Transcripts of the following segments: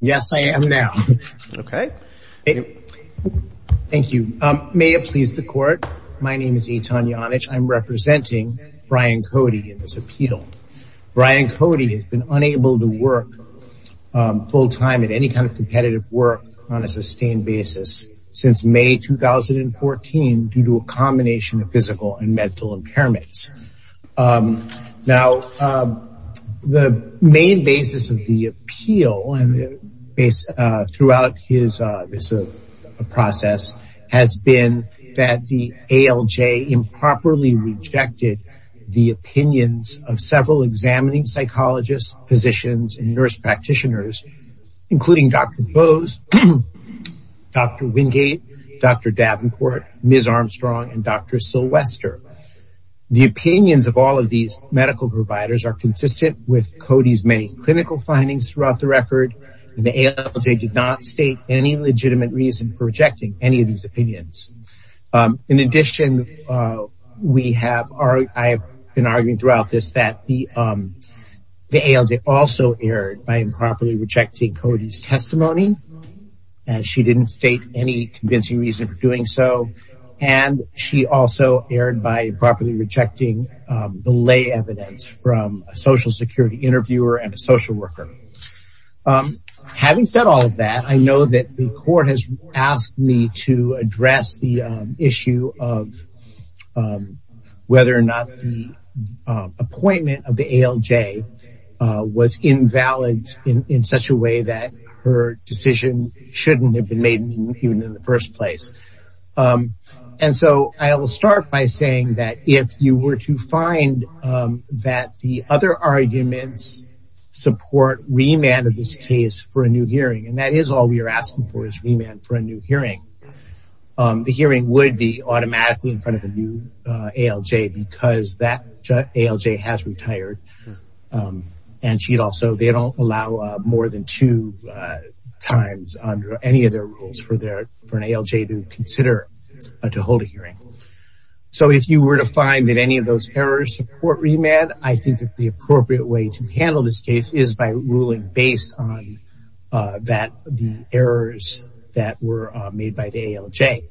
Yes, I am now. Okay. Thank you. May it please the court. My name is Eitan Janich. I'm representing Brian Cody in this appeal. Brian Cody has been unable to work full-time at any kind of competitive work on a sustained basis since May 2014 due to a combination of physical and mental impairments. Now the main basis of the appeal and throughout his process has been that the ALJ improperly rejected the opinions of several examining psychologists, physicians, and nurse practitioners including Dr. Bose, Dr. Wingate, Dr. Davenport, Ms. Armstrong, and Dr. Sylvester. The opinions of all of these medical providers are consistent with Cody's many clinical findings throughout the record and the ALJ did not state any legitimate reason for rejecting any of these opinions. In addition, we have, I've been arguing throughout this that the ALJ also erred by improperly rejecting Cody's testimony as she didn't state any convincing reason for doing so and she also erred by improperly rejecting evidence from a social security interviewer and a social worker. Having said all of that, I know that the court has asked me to address the issue of whether or not the appointment of the ALJ was invalid in such a way that her decision shouldn't have been made even in the first place. And so I will start by saying that if you were to find that the other arguments support remand of this case for a new hearing, and that is all we are asking for is remand for a new hearing, the hearing would be automatically in front of a new ALJ because that ALJ has retired and she'd also, they don't allow more than two times under any of their rules for their, for an ALJ to consider to hold a new ALJ. So if you were to find that any of those errors support remand, I think that the appropriate way to handle this case is by ruling based on that, the errors that were made by the ALJ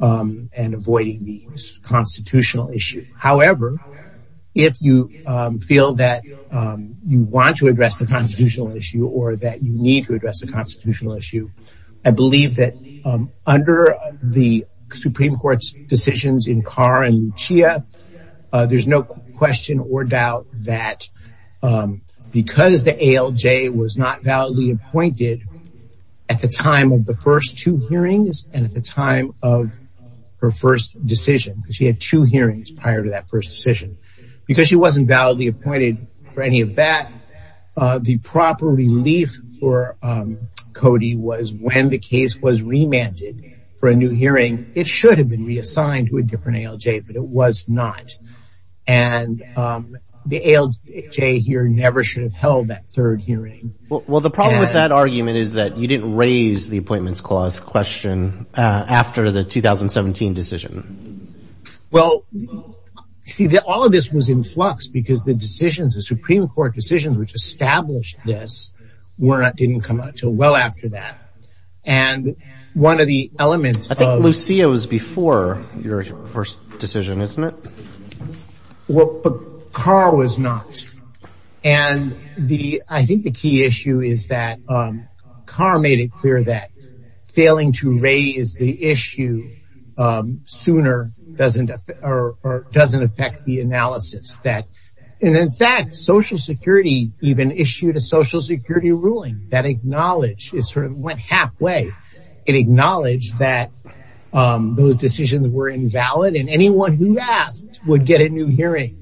and avoiding the constitutional issue. However, if you feel that you want to address the constitutional issue or that you need to address the constitutional issue, I believe that under the Supreme Court's decisions in Carr and Lucia, there's no question or doubt that because the ALJ was not validly appointed at the time of the first two hearings and at the time of her first decision, she had two hearings prior to that first decision, because she wasn't validly appointed for any of that, the proper relief for Cody was when the case was remanded for a new hearing, it should have been reassigned to a different ALJ, but it was not. And the ALJ here never should have held that third hearing. Well, the problem with that argument is that you didn't raise the appointments clause question after the 2017 decision. Well, see that all of this was in flux because the decisions, the Supreme Court decisions, which established this weren't, didn't come up until well after that. And one of the elements... I think Lucia was before your first decision, isn't it? Well, but Carr was not. And the, I think the key issue is that Carr made it clear that failing to raise the issue sooner doesn't, or doesn't affect the analysis that, and in fact, Social Security even issued a Social Security ruling that acknowledged, it sort of went halfway, it acknowledged that those decisions were invalid and anyone who asked would get a new hearing.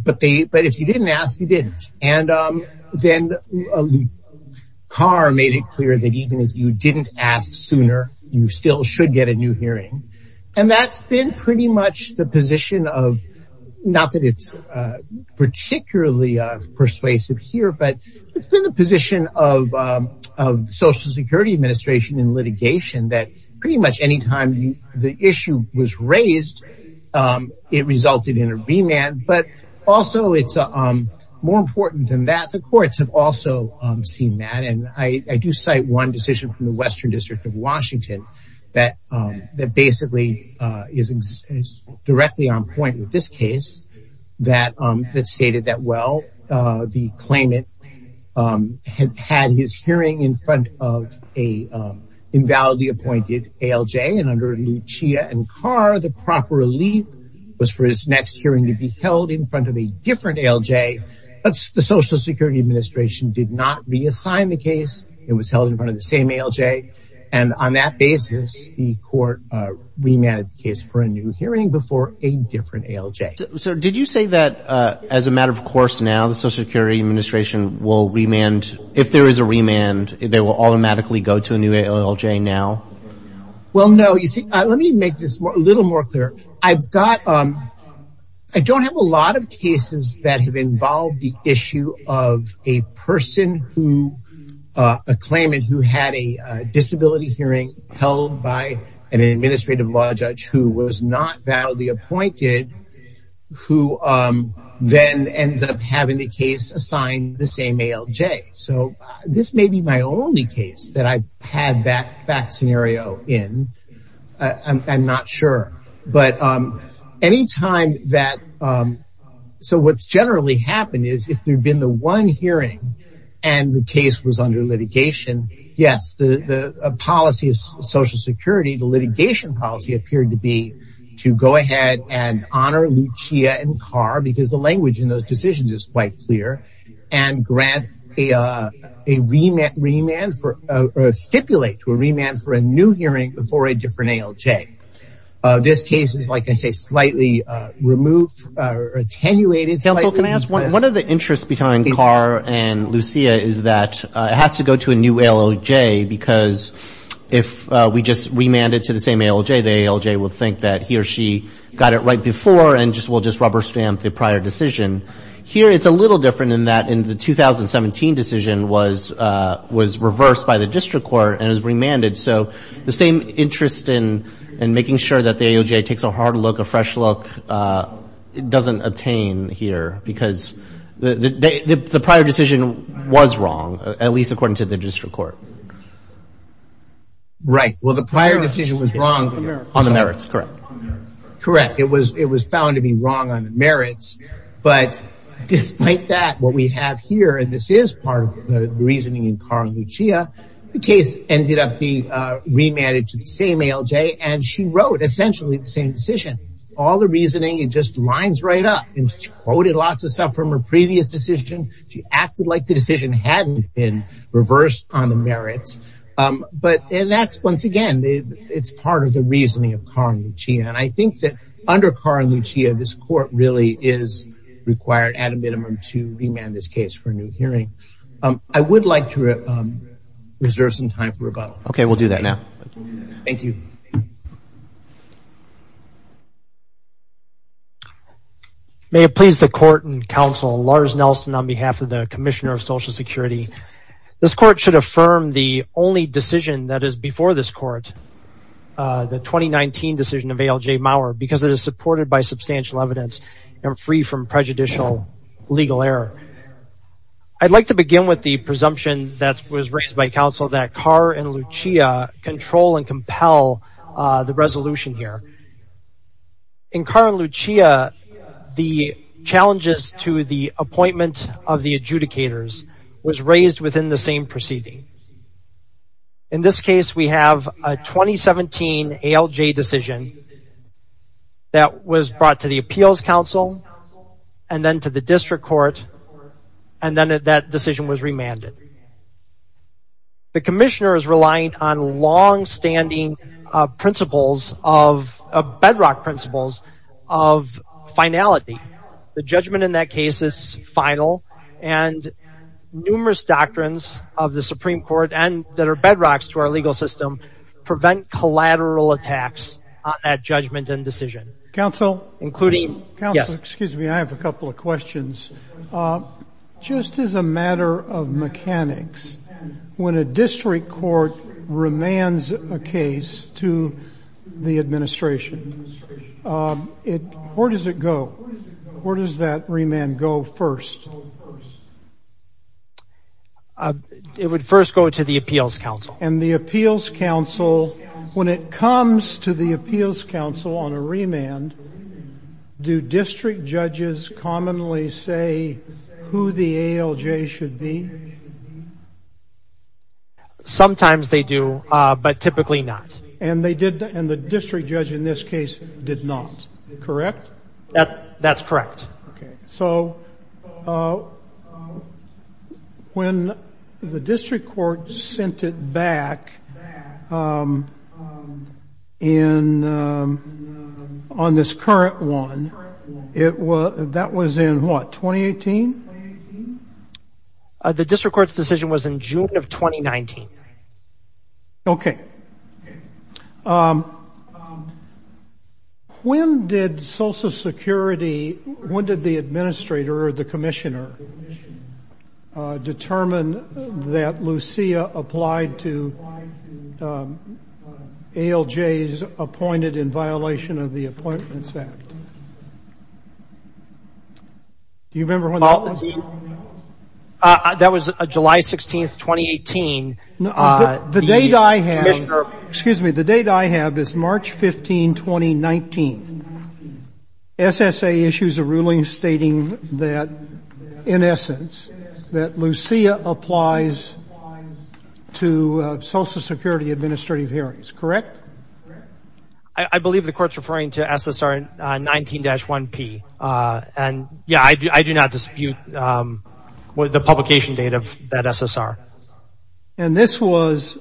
But they, but if you didn't ask, you didn't. And then Carr made it clear that even if you didn't ask sooner, you still should get a new hearing. And that's been pretty much the position of, not that it's particularly persuasive here, but it's been the position of Social Security administration in litigation that pretty much any time the issue was raised, it resulted in a remand. But also it's more important than that, the courts have also seen that. And I do cite one decision from the Western District of Washington that basically is directly on point with this case that stated that, well, the claimant had had his hearing in front of a invalidly appointed ALJ and under Lucia and Carr, the proper relief was for his next hearing to be held in front of a different ALJ. But the Social Security administration did not reassign the case. It was held in front of the same ALJ. And on that basis, the court remanded the case for a new hearing before a different ALJ. So did you say that as a matter of course, now the Social Security administration will remand, if there is a remand, they will automatically go to a new ALJ now? Well, no, you see, let me make this a little more clear. I've got, I don't have a lot of cases that have involved the issue of a person who, a claimant who had a disability hearing held by an administrative law judge who was not validly appointed, who then ends up having the case assigned the same ALJ. So this may be my only case that I've had that scenario in. I'm not sure. But anytime that, so what's generally happened is if there'd been the one hearing and the case was under litigation, yes, the policy of Social Security, the litigation policy appeared to be to go ahead and honor Lucia and Carr, because the language in those decisions is quite clear, and grant a remand for, or stipulate to a remand for a new hearing before a different ALJ. This case is, like I say, slightly removed, attenuated. Counsel, can I ask one of the interests behind Carr and Lucia is that it has to go to a new ALJ because if we just remanded to the same ALJ, the ALJ will think that he or she got it right before and just will just rubber stamp the prior decision. Here, it's a little different in that in the 2017 decision was, was reversed by the district court and was remanded. So the same interest in, in making sure that the ALJ takes a hard look, a fresh look, it doesn't attain here because the prior decision was wrong, at least according to the district court. Right. Well, the prior decision was wrong on the merits, correct? Correct. It was, it was found to be wrong on the merits, but despite that, what we have here, and this is part of the reasoning in Carr and Lucia, the case ended up being remanded to the same ALJ, and she wrote essentially the same decision. All the reasoning, it just lines right up. She quoted lots of stuff from her previous decision. She acted like the decision hadn't been reversed on the merits, but and that's once again, it's part of the reasoning of Carr and Lucia, and I think that under Carr and Lucia, this court really is required at a minimum to remand this case for a new hearing. I would like to reserve some time for rebuttal. Okay, we'll do that now. Thank you. May it please the court and counsel, Lars Nelson on behalf of the Commissioner of Social Security. This court should affirm the only decision that is before this court, the 2019 decision of ALJ Maurer, because it is supported by substantial evidence and free from prejudicial legal error. I'd like to begin with the presumption that was raised by counsel that Carr and Lucia, the challenges to the appointment of the adjudicators was raised within the same proceeding. In this case, we have a 2017 ALJ decision that was brought to the Appeals Council, and then to the District Court, and then that decision was remanded. The Commissioner is relying on long-standing principles of, bedrock principles of finality. The judgment in that case is final, and numerous doctrines of the Supreme Court, and that are bedrocks to our legal system, prevent collateral attacks at judgment and decision. Counsel? Including, yes. Excuse me, I have a couple of questions. Just as a matter of the Administration, where does it go? Where does that remand go first? It would first go to the Appeals Council. And the Appeals Council, when it comes to the Appeals Council on a remand, do district judges commonly say who the ALJ should be? Sometimes they do, but typically not. And they did, and the district judge in this case did not, correct? That's correct. Okay, so when the District Court sent it back in, on this current one, it was, that was in what, 2018? The District Court's decision was in June of 2019. Okay. When did Social Security, when did the District Court apply to ALJs appointed in violation of the Appointments Act? Do you remember when that was? That was July 16, 2018. The date I have, excuse me, the date I have is March 15, 2019. SSA issues a ruling stating that, in essence, that administrative hearings, correct? I believe the court's referring to SSR 19-1P. And yeah, I do not dispute the publication date of that SSR. And this was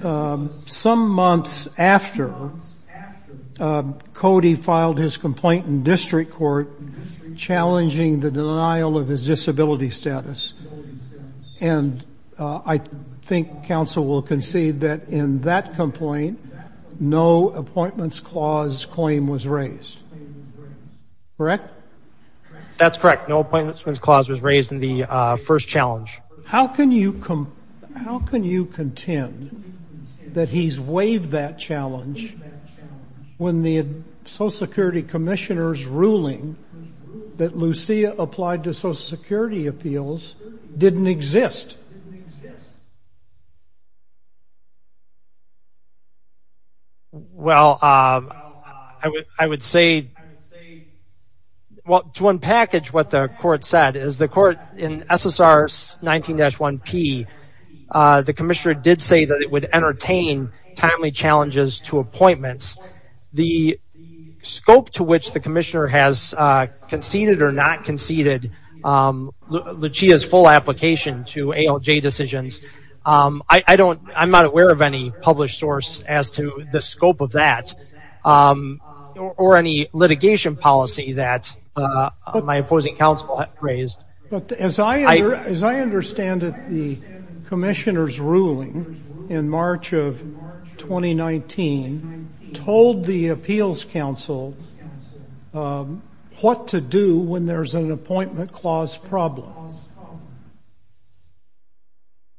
some months after Cody filed his complaint in District Court, challenging the denial of his disability status. And I think counsel will concede that in that complaint, no Appointments Clause claim was raised, correct? That's correct. No Appointments Clause was raised in the first challenge. How can you, how can you contend that he's waived that challenge when the Social Security Commissioner's Well, I would, I would say, well, to unpackage what the court said is the court in SSR 19-1P, the Commissioner did say that it would entertain timely challenges to appointments. The scope to which the Commissioner has conceded or not conceded Lucia's full application to ALJ decisions I don't, I'm not aware of any published source as to the scope of that or any litigation policy that my opposing counsel raised. But as I understand it, the Commissioner's ruling in March of 2019 told the Appeals Council what to do when there's an Appointment Clause problem.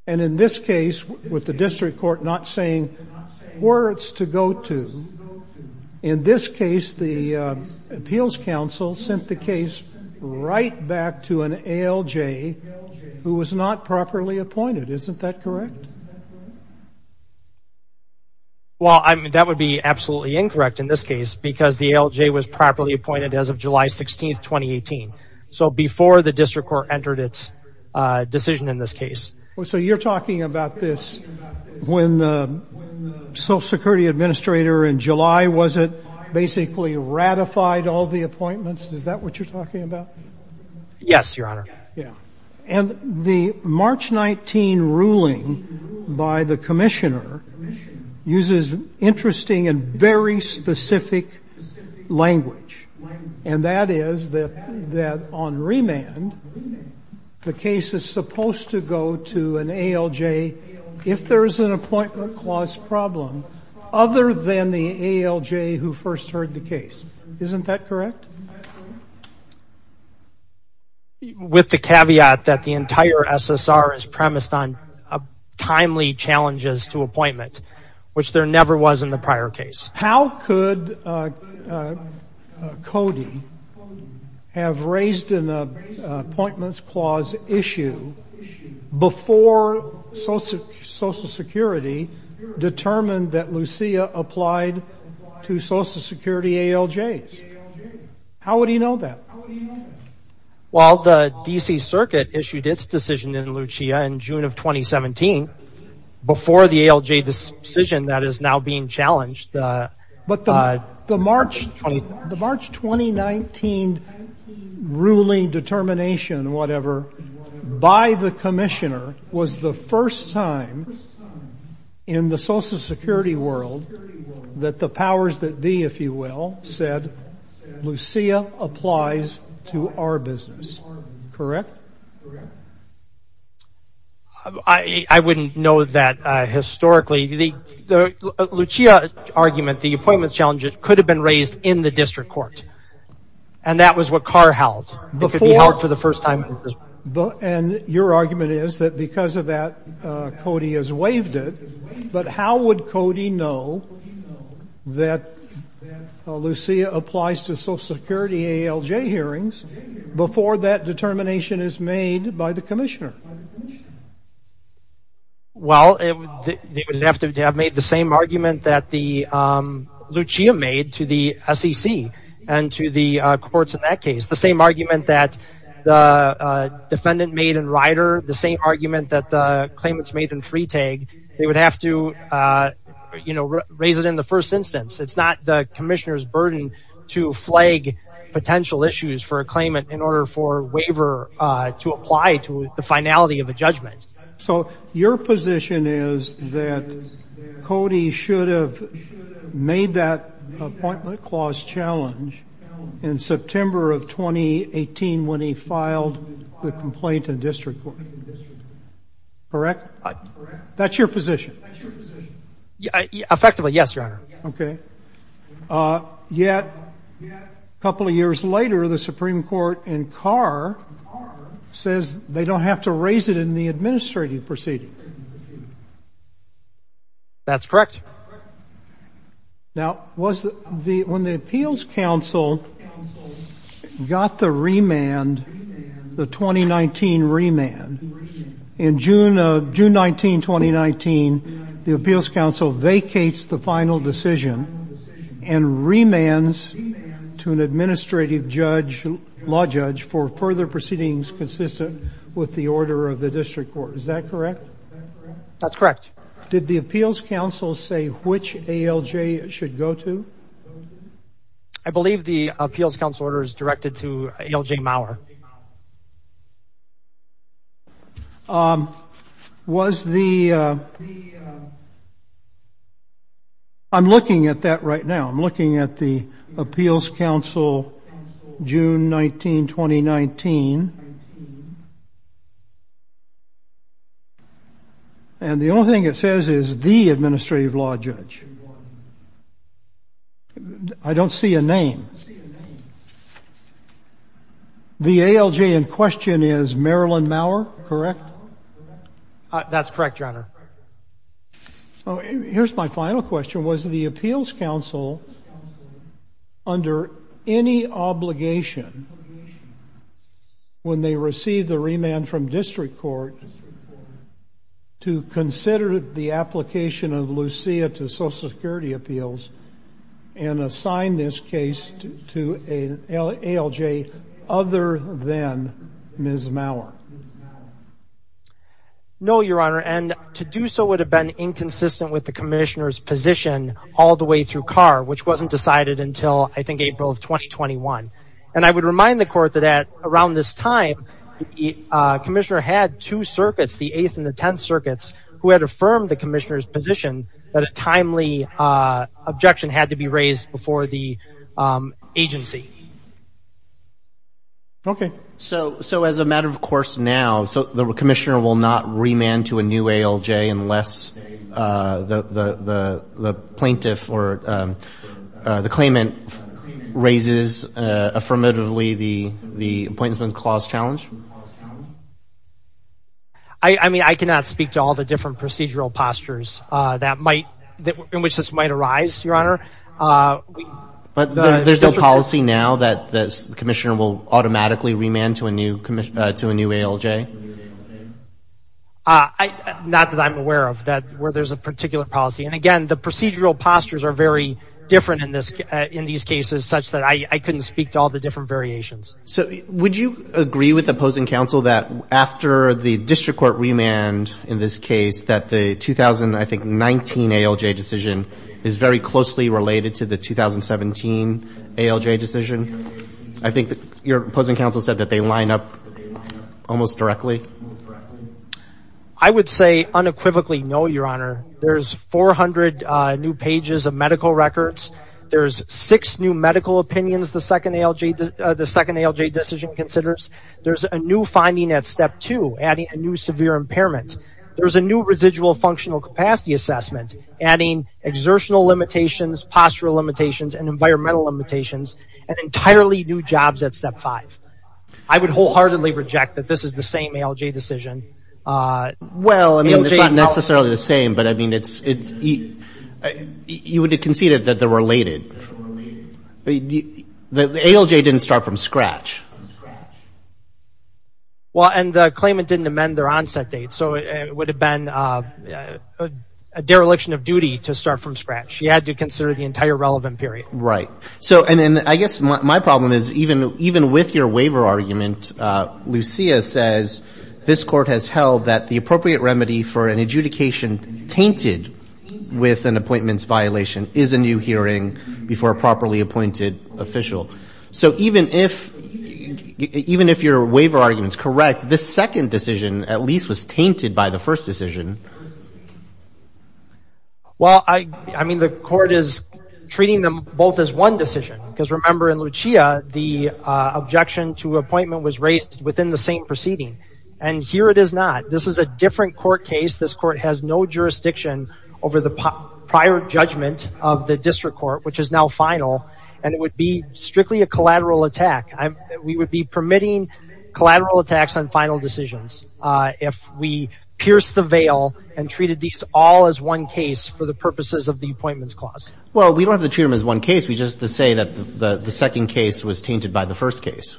And in this case, with the District Court not saying where it's to go to, in this case, the Appeals Council sent the case right back to an ALJ who was not properly appointed. Isn't that correct? Well, I mean, that would be absolutely incorrect in this case because the ALJ was properly appointed as of July 16th, 2018. So before the District Court entered its decision in this case. Well, so you're talking about this when the Social Security Administrator in July, was it basically ratified all the appointments? Is that what you're talking about? Yes, Your Honor. Yeah. And the March 19 ruling by the Commissioner uses interesting and very specific language. And that is that on remand, the case is supposed to go to an ALJ if there's an Appointment Clause problem, other than the ALJ who first heard the case. Isn't that correct? With the caveat that the entire SSR is premised on timely challenges to appointment, which there never was in the prior case. How could Cody have raised an Appointments Clause issue before Social Security determined that Lucia applied to Social Security ALJs? How would he know that? Well, the DC Circuit issued its decision in Lucia in June of 2017, before the ALJ decision that is now being challenged. But the March 2019 ruling determination, whatever, by the Commissioner was the first time in the Social Security world that the powers that be, if you will, said Lucia applies to our business. Correct? Correct. I wouldn't know that historically. The Lucia argument, the appointments challenge, it could have been raised in the district court. And that was what Carr held. Before. For the first time. And your argument is that because of that, Cody has waived it. But how would Cody know that Lucia applies to Social Security ALJ hearings before that determination is made by the Commissioner? Well, they would have to have made the same argument that the Lucia made to the SEC and to the courts in that case. The same argument that the defendant made in Rider, the same argument that the claimants made in Freetag. They would have to, you know, raise it in the first instance. It's not the Commissioner's burden to flag potential issues for a claimant in order for a waiver to apply to the finality of a judgment. So your position is that Cody should have made that appointment clause challenge in September of 2018 when he filed the complaint in district court. Correct? That's your position. Effectively, yes, your honor. Okay. Yet a couple of years later, the Supreme Court in Carr says they don't have to raise it in the administrative proceeding. That's correct. Now, was the when the appeals council got the remand, the 2019 remand in June of June 19, 2019, the appeals council vacates the final decision and remands to an administrative judge, law judge for further proceedings consistent with the order of the district court. Is that correct? That's correct. Did the appeals council say which ALJ should go to? I believe the appeals council order is directed to ALJ Mauer. Was the, I'm looking at that right now, I'm looking at the appeals council, June 19, 2019. And the only thing it says is the administrative law judge. I don't see a name. The ALJ in question is Marilyn Mauer, correct? That's correct, your honor. Oh, here's my final question. Was the appeals council under any obligation when they received the remand from district court to consider the application of Lucia to social security appeals and assign this case to the district court? To an ALJ other than Ms. Mauer? No, your honor. And to do so would have been inconsistent with the commissioner's position all the way through CAR, which wasn't decided until I think April of 2021. And I would remind the court that at around this time, the commissioner had two circuits, the eighth and the 10th circuits who had affirmed the commissioner's position that a timely objection had to be raised before the agency. Okay. So, so as a matter of course now, so the commissioner will not remand to a new ALJ unless the, the, the, the plaintiff or the claimant raises affirmatively the, the appointment clause challenge. I mean, I cannot speak to all the different procedural postures that might, in which this might arise, your honor. But there's no policy now that the commissioner will automatically remand to a new commission, to a new ALJ? I, not that I'm aware of that where there's a particular policy. And again, the procedural postures are very different in this, in these cases, such that I couldn't speak to all the different variations. So would you agree with opposing counsel that after the district court remand in this case, that the 2000, I think 19 ALJ decision is very closely related to the 2017 ALJ decision? I think your opposing counsel said that they line up almost directly. I would say unequivocally, no, your honor, there's 400 new pages of medical records. There's six new medical opinions. The second ALJ, the second ALJ decision considers. There's a new finding at step two, adding a new severe impairment. There's a new residual functional capacity assessment, adding exertional limitations, postural limitations, and environmental limitations, and entirely new jobs at step five. I would wholeheartedly reject that this is the same ALJ decision. Well, I mean, it's not necessarily the same, but I mean, it's, it's, you would have conceded that they're related. The ALJ didn't start from scratch. Well, and the claimant didn't amend their onset date. So it would have been a dereliction of duty to start from scratch. You had to consider the entire relevant period. Right. So, and I guess my problem is even, even with your waiver argument, Lucia says this court has held that the appropriate remedy for an adjudication tainted with an appointments violation is a new hearing before a properly appointed official. So even if, even if your waiver argument is correct, this second decision at least was tainted by the first decision. Well, I, I mean, the court is treating them both as one decision, because remember in Lucia, the objection to appointment was raised within the same proceeding, and here it is not. This is a different court case. This court has no jurisdiction over the prior judgment of the district court, which is now final, and it would be strictly a collateral attack. We would be permitting collateral attacks on final decisions. If we pierce the veil and treated these all as one case for the purposes of the appointments clause. Well, we don't have to treat them as one case. We just say that the second case was tainted by the first case.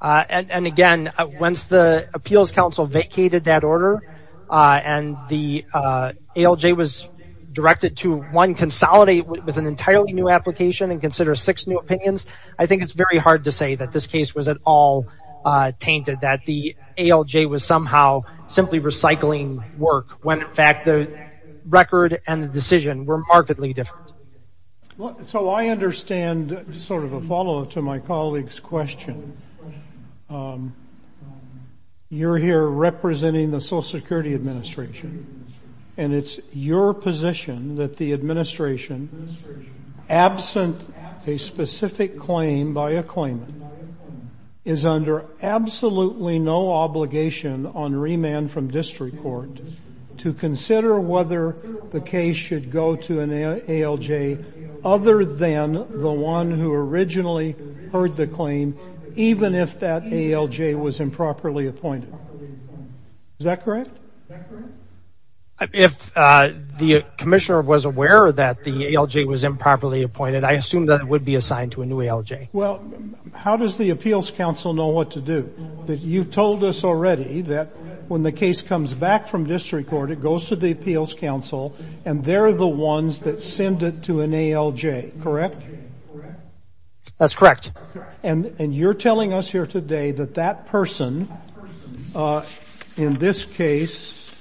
And again, once the appeals council vacated that order and the ALJ was directed to one, consolidate with an entirely new application and consider six new opinions, I think it's very hard to say that this case was at all tainted, that the ALJ was somehow simply recycling work, when in fact the record and the decision were markedly different. So I understand sort of a follow up to my colleague's question. You're here representing the Social Security Administration, and it's your position that the administration, absent a specific claim by a claimant, is under absolutely no obligation on remand from district court to consider whether the case should go to an ALJ other than the one who originally heard the claim, even if that ALJ was improperly appointed. Is that correct? If the commissioner was aware that the ALJ was improperly appointed, I assume that it would be assigned to a new ALJ. Well, how does the appeals council know what to do? That you've told us already that when the case comes back from district court, it goes to the appeals council and they're the ones that send it to an ALJ, correct? That's correct. And you're telling us here today that that person, in this case,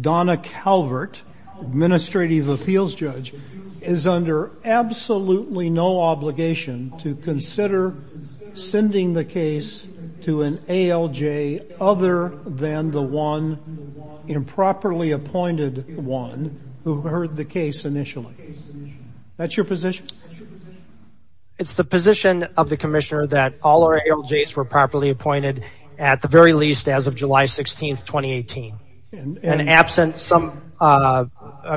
Donna Calvert, administrative appeals judge, is under absolutely no obligation to consider sending the case to an ALJ other than the one, improperly appointed one, who heard the case initially. That's your position? It's the position of the commissioner that all our ALJs were properly appointed, at the very least, as of July 16th, 2018, and absent some,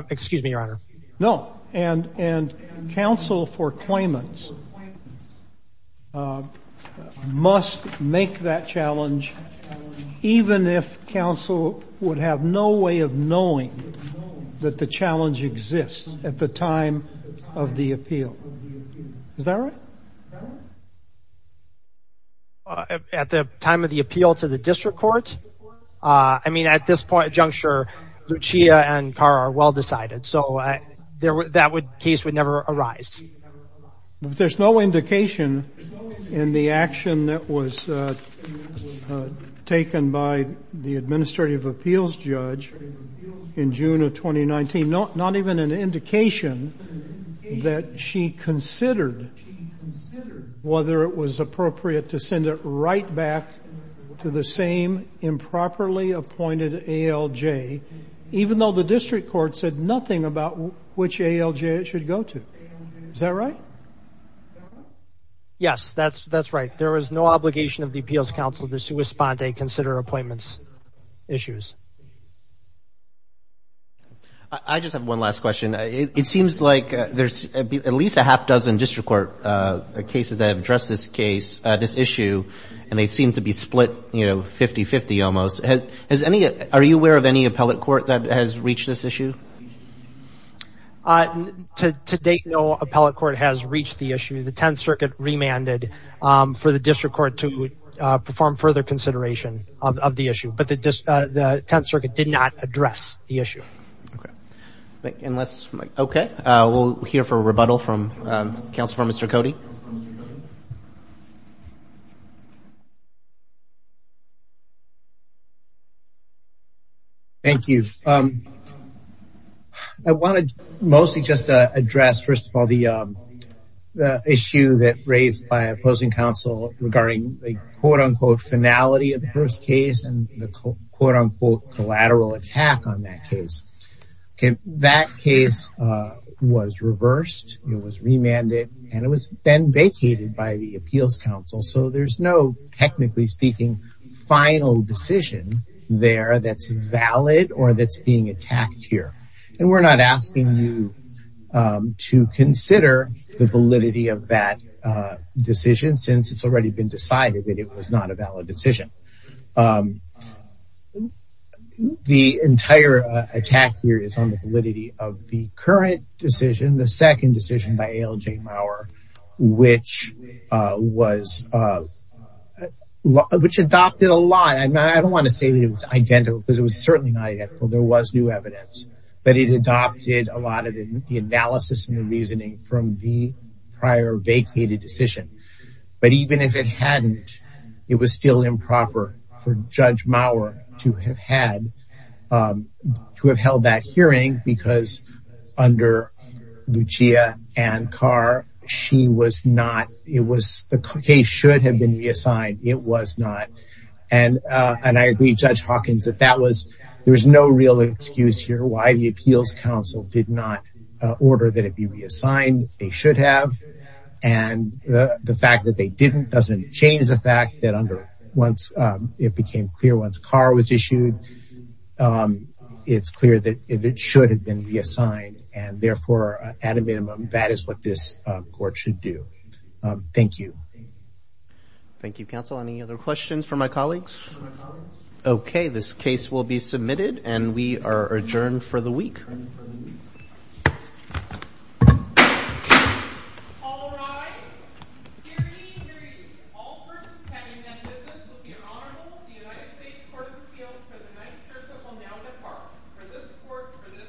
excuse me, your honor. No, and council for claimants must make that challenge, even if council would have no way of knowing that the challenge exists at the time of the appeal. Is that right? At the time of the appeal to the district court, I mean, at this point, Juncture, Lucia and Cara are well decided, so that case would never arise. But there's no indication in the action that was taken by the administrative appeals judge in June of 2019, not even an indication that she considered whether it was appropriate to send it right back to the same improperly appointed ALJ, even though the district court said nothing about which ALJ it should go to. Is that right? Yes, that's right. There is no obligation of the appeals council to respond and consider appointments issues. I just have one last question. It seems like there's at least a half dozen district court cases that have addressed this case, this issue, and they've seemed to be split, you know, 50-50 almost. Has any, are you aware of any appellate court that has reached this issue? To date, no appellate court has reached the issue. The 10th Circuit remanded for the district court to perform further consideration of the issue, but the 10th Circuit did not address the issue. Okay, we'll hear for a rebuttal from counsel for Mr. Cote. Thank you. I want to mostly just address, first of all, the issue that was raised by opposing counsel regarding the quote-unquote finality of the first case and the quote-unquote collateral attack on that case. Okay, that case was reversed, it was remanded, and it was then vacated by the appeals council. So there's no, technically speaking, final decision there that's valid or that's being attacked here. And we're not asking you to consider the validity of that decision since it's already been decided that it was not a valid decision. The entire attack here is on the validity of the current decision, the second decision by A.L. J. Mauer, which was, which adopted a lot. I don't want to say that it was identical because it was certainly not identical. There was new evidence, but it adopted a lot of the analysis and the reasoning from the prior vacated decision. But even if it hadn't, it was still improper for Judge Mauer to have had, to have held that hearing because under Lucia Ann Carr, she was not, it was, the case should have been reassigned. It was not. And I agree, Judge Hawkins, that that was, there was no real excuse here why the appeals council did not order that it be reassigned. They should have. And the fact that they didn't doesn't change the fact that under, once it became clear, once Carr was issued, it's clear that it should have been reassigned. And therefore, at a minimum, that is what this court should do. Thank you. Thank you, counsel. Any other questions for my colleagues? Okay, this case will be submitted and we are adjourned for the week. All rise. Hear ye, hear ye. All persons having done business will be honorable. The United States Court of Appeals for the Ninth Circuit will now depart. For this court, for this session, now is adjourned.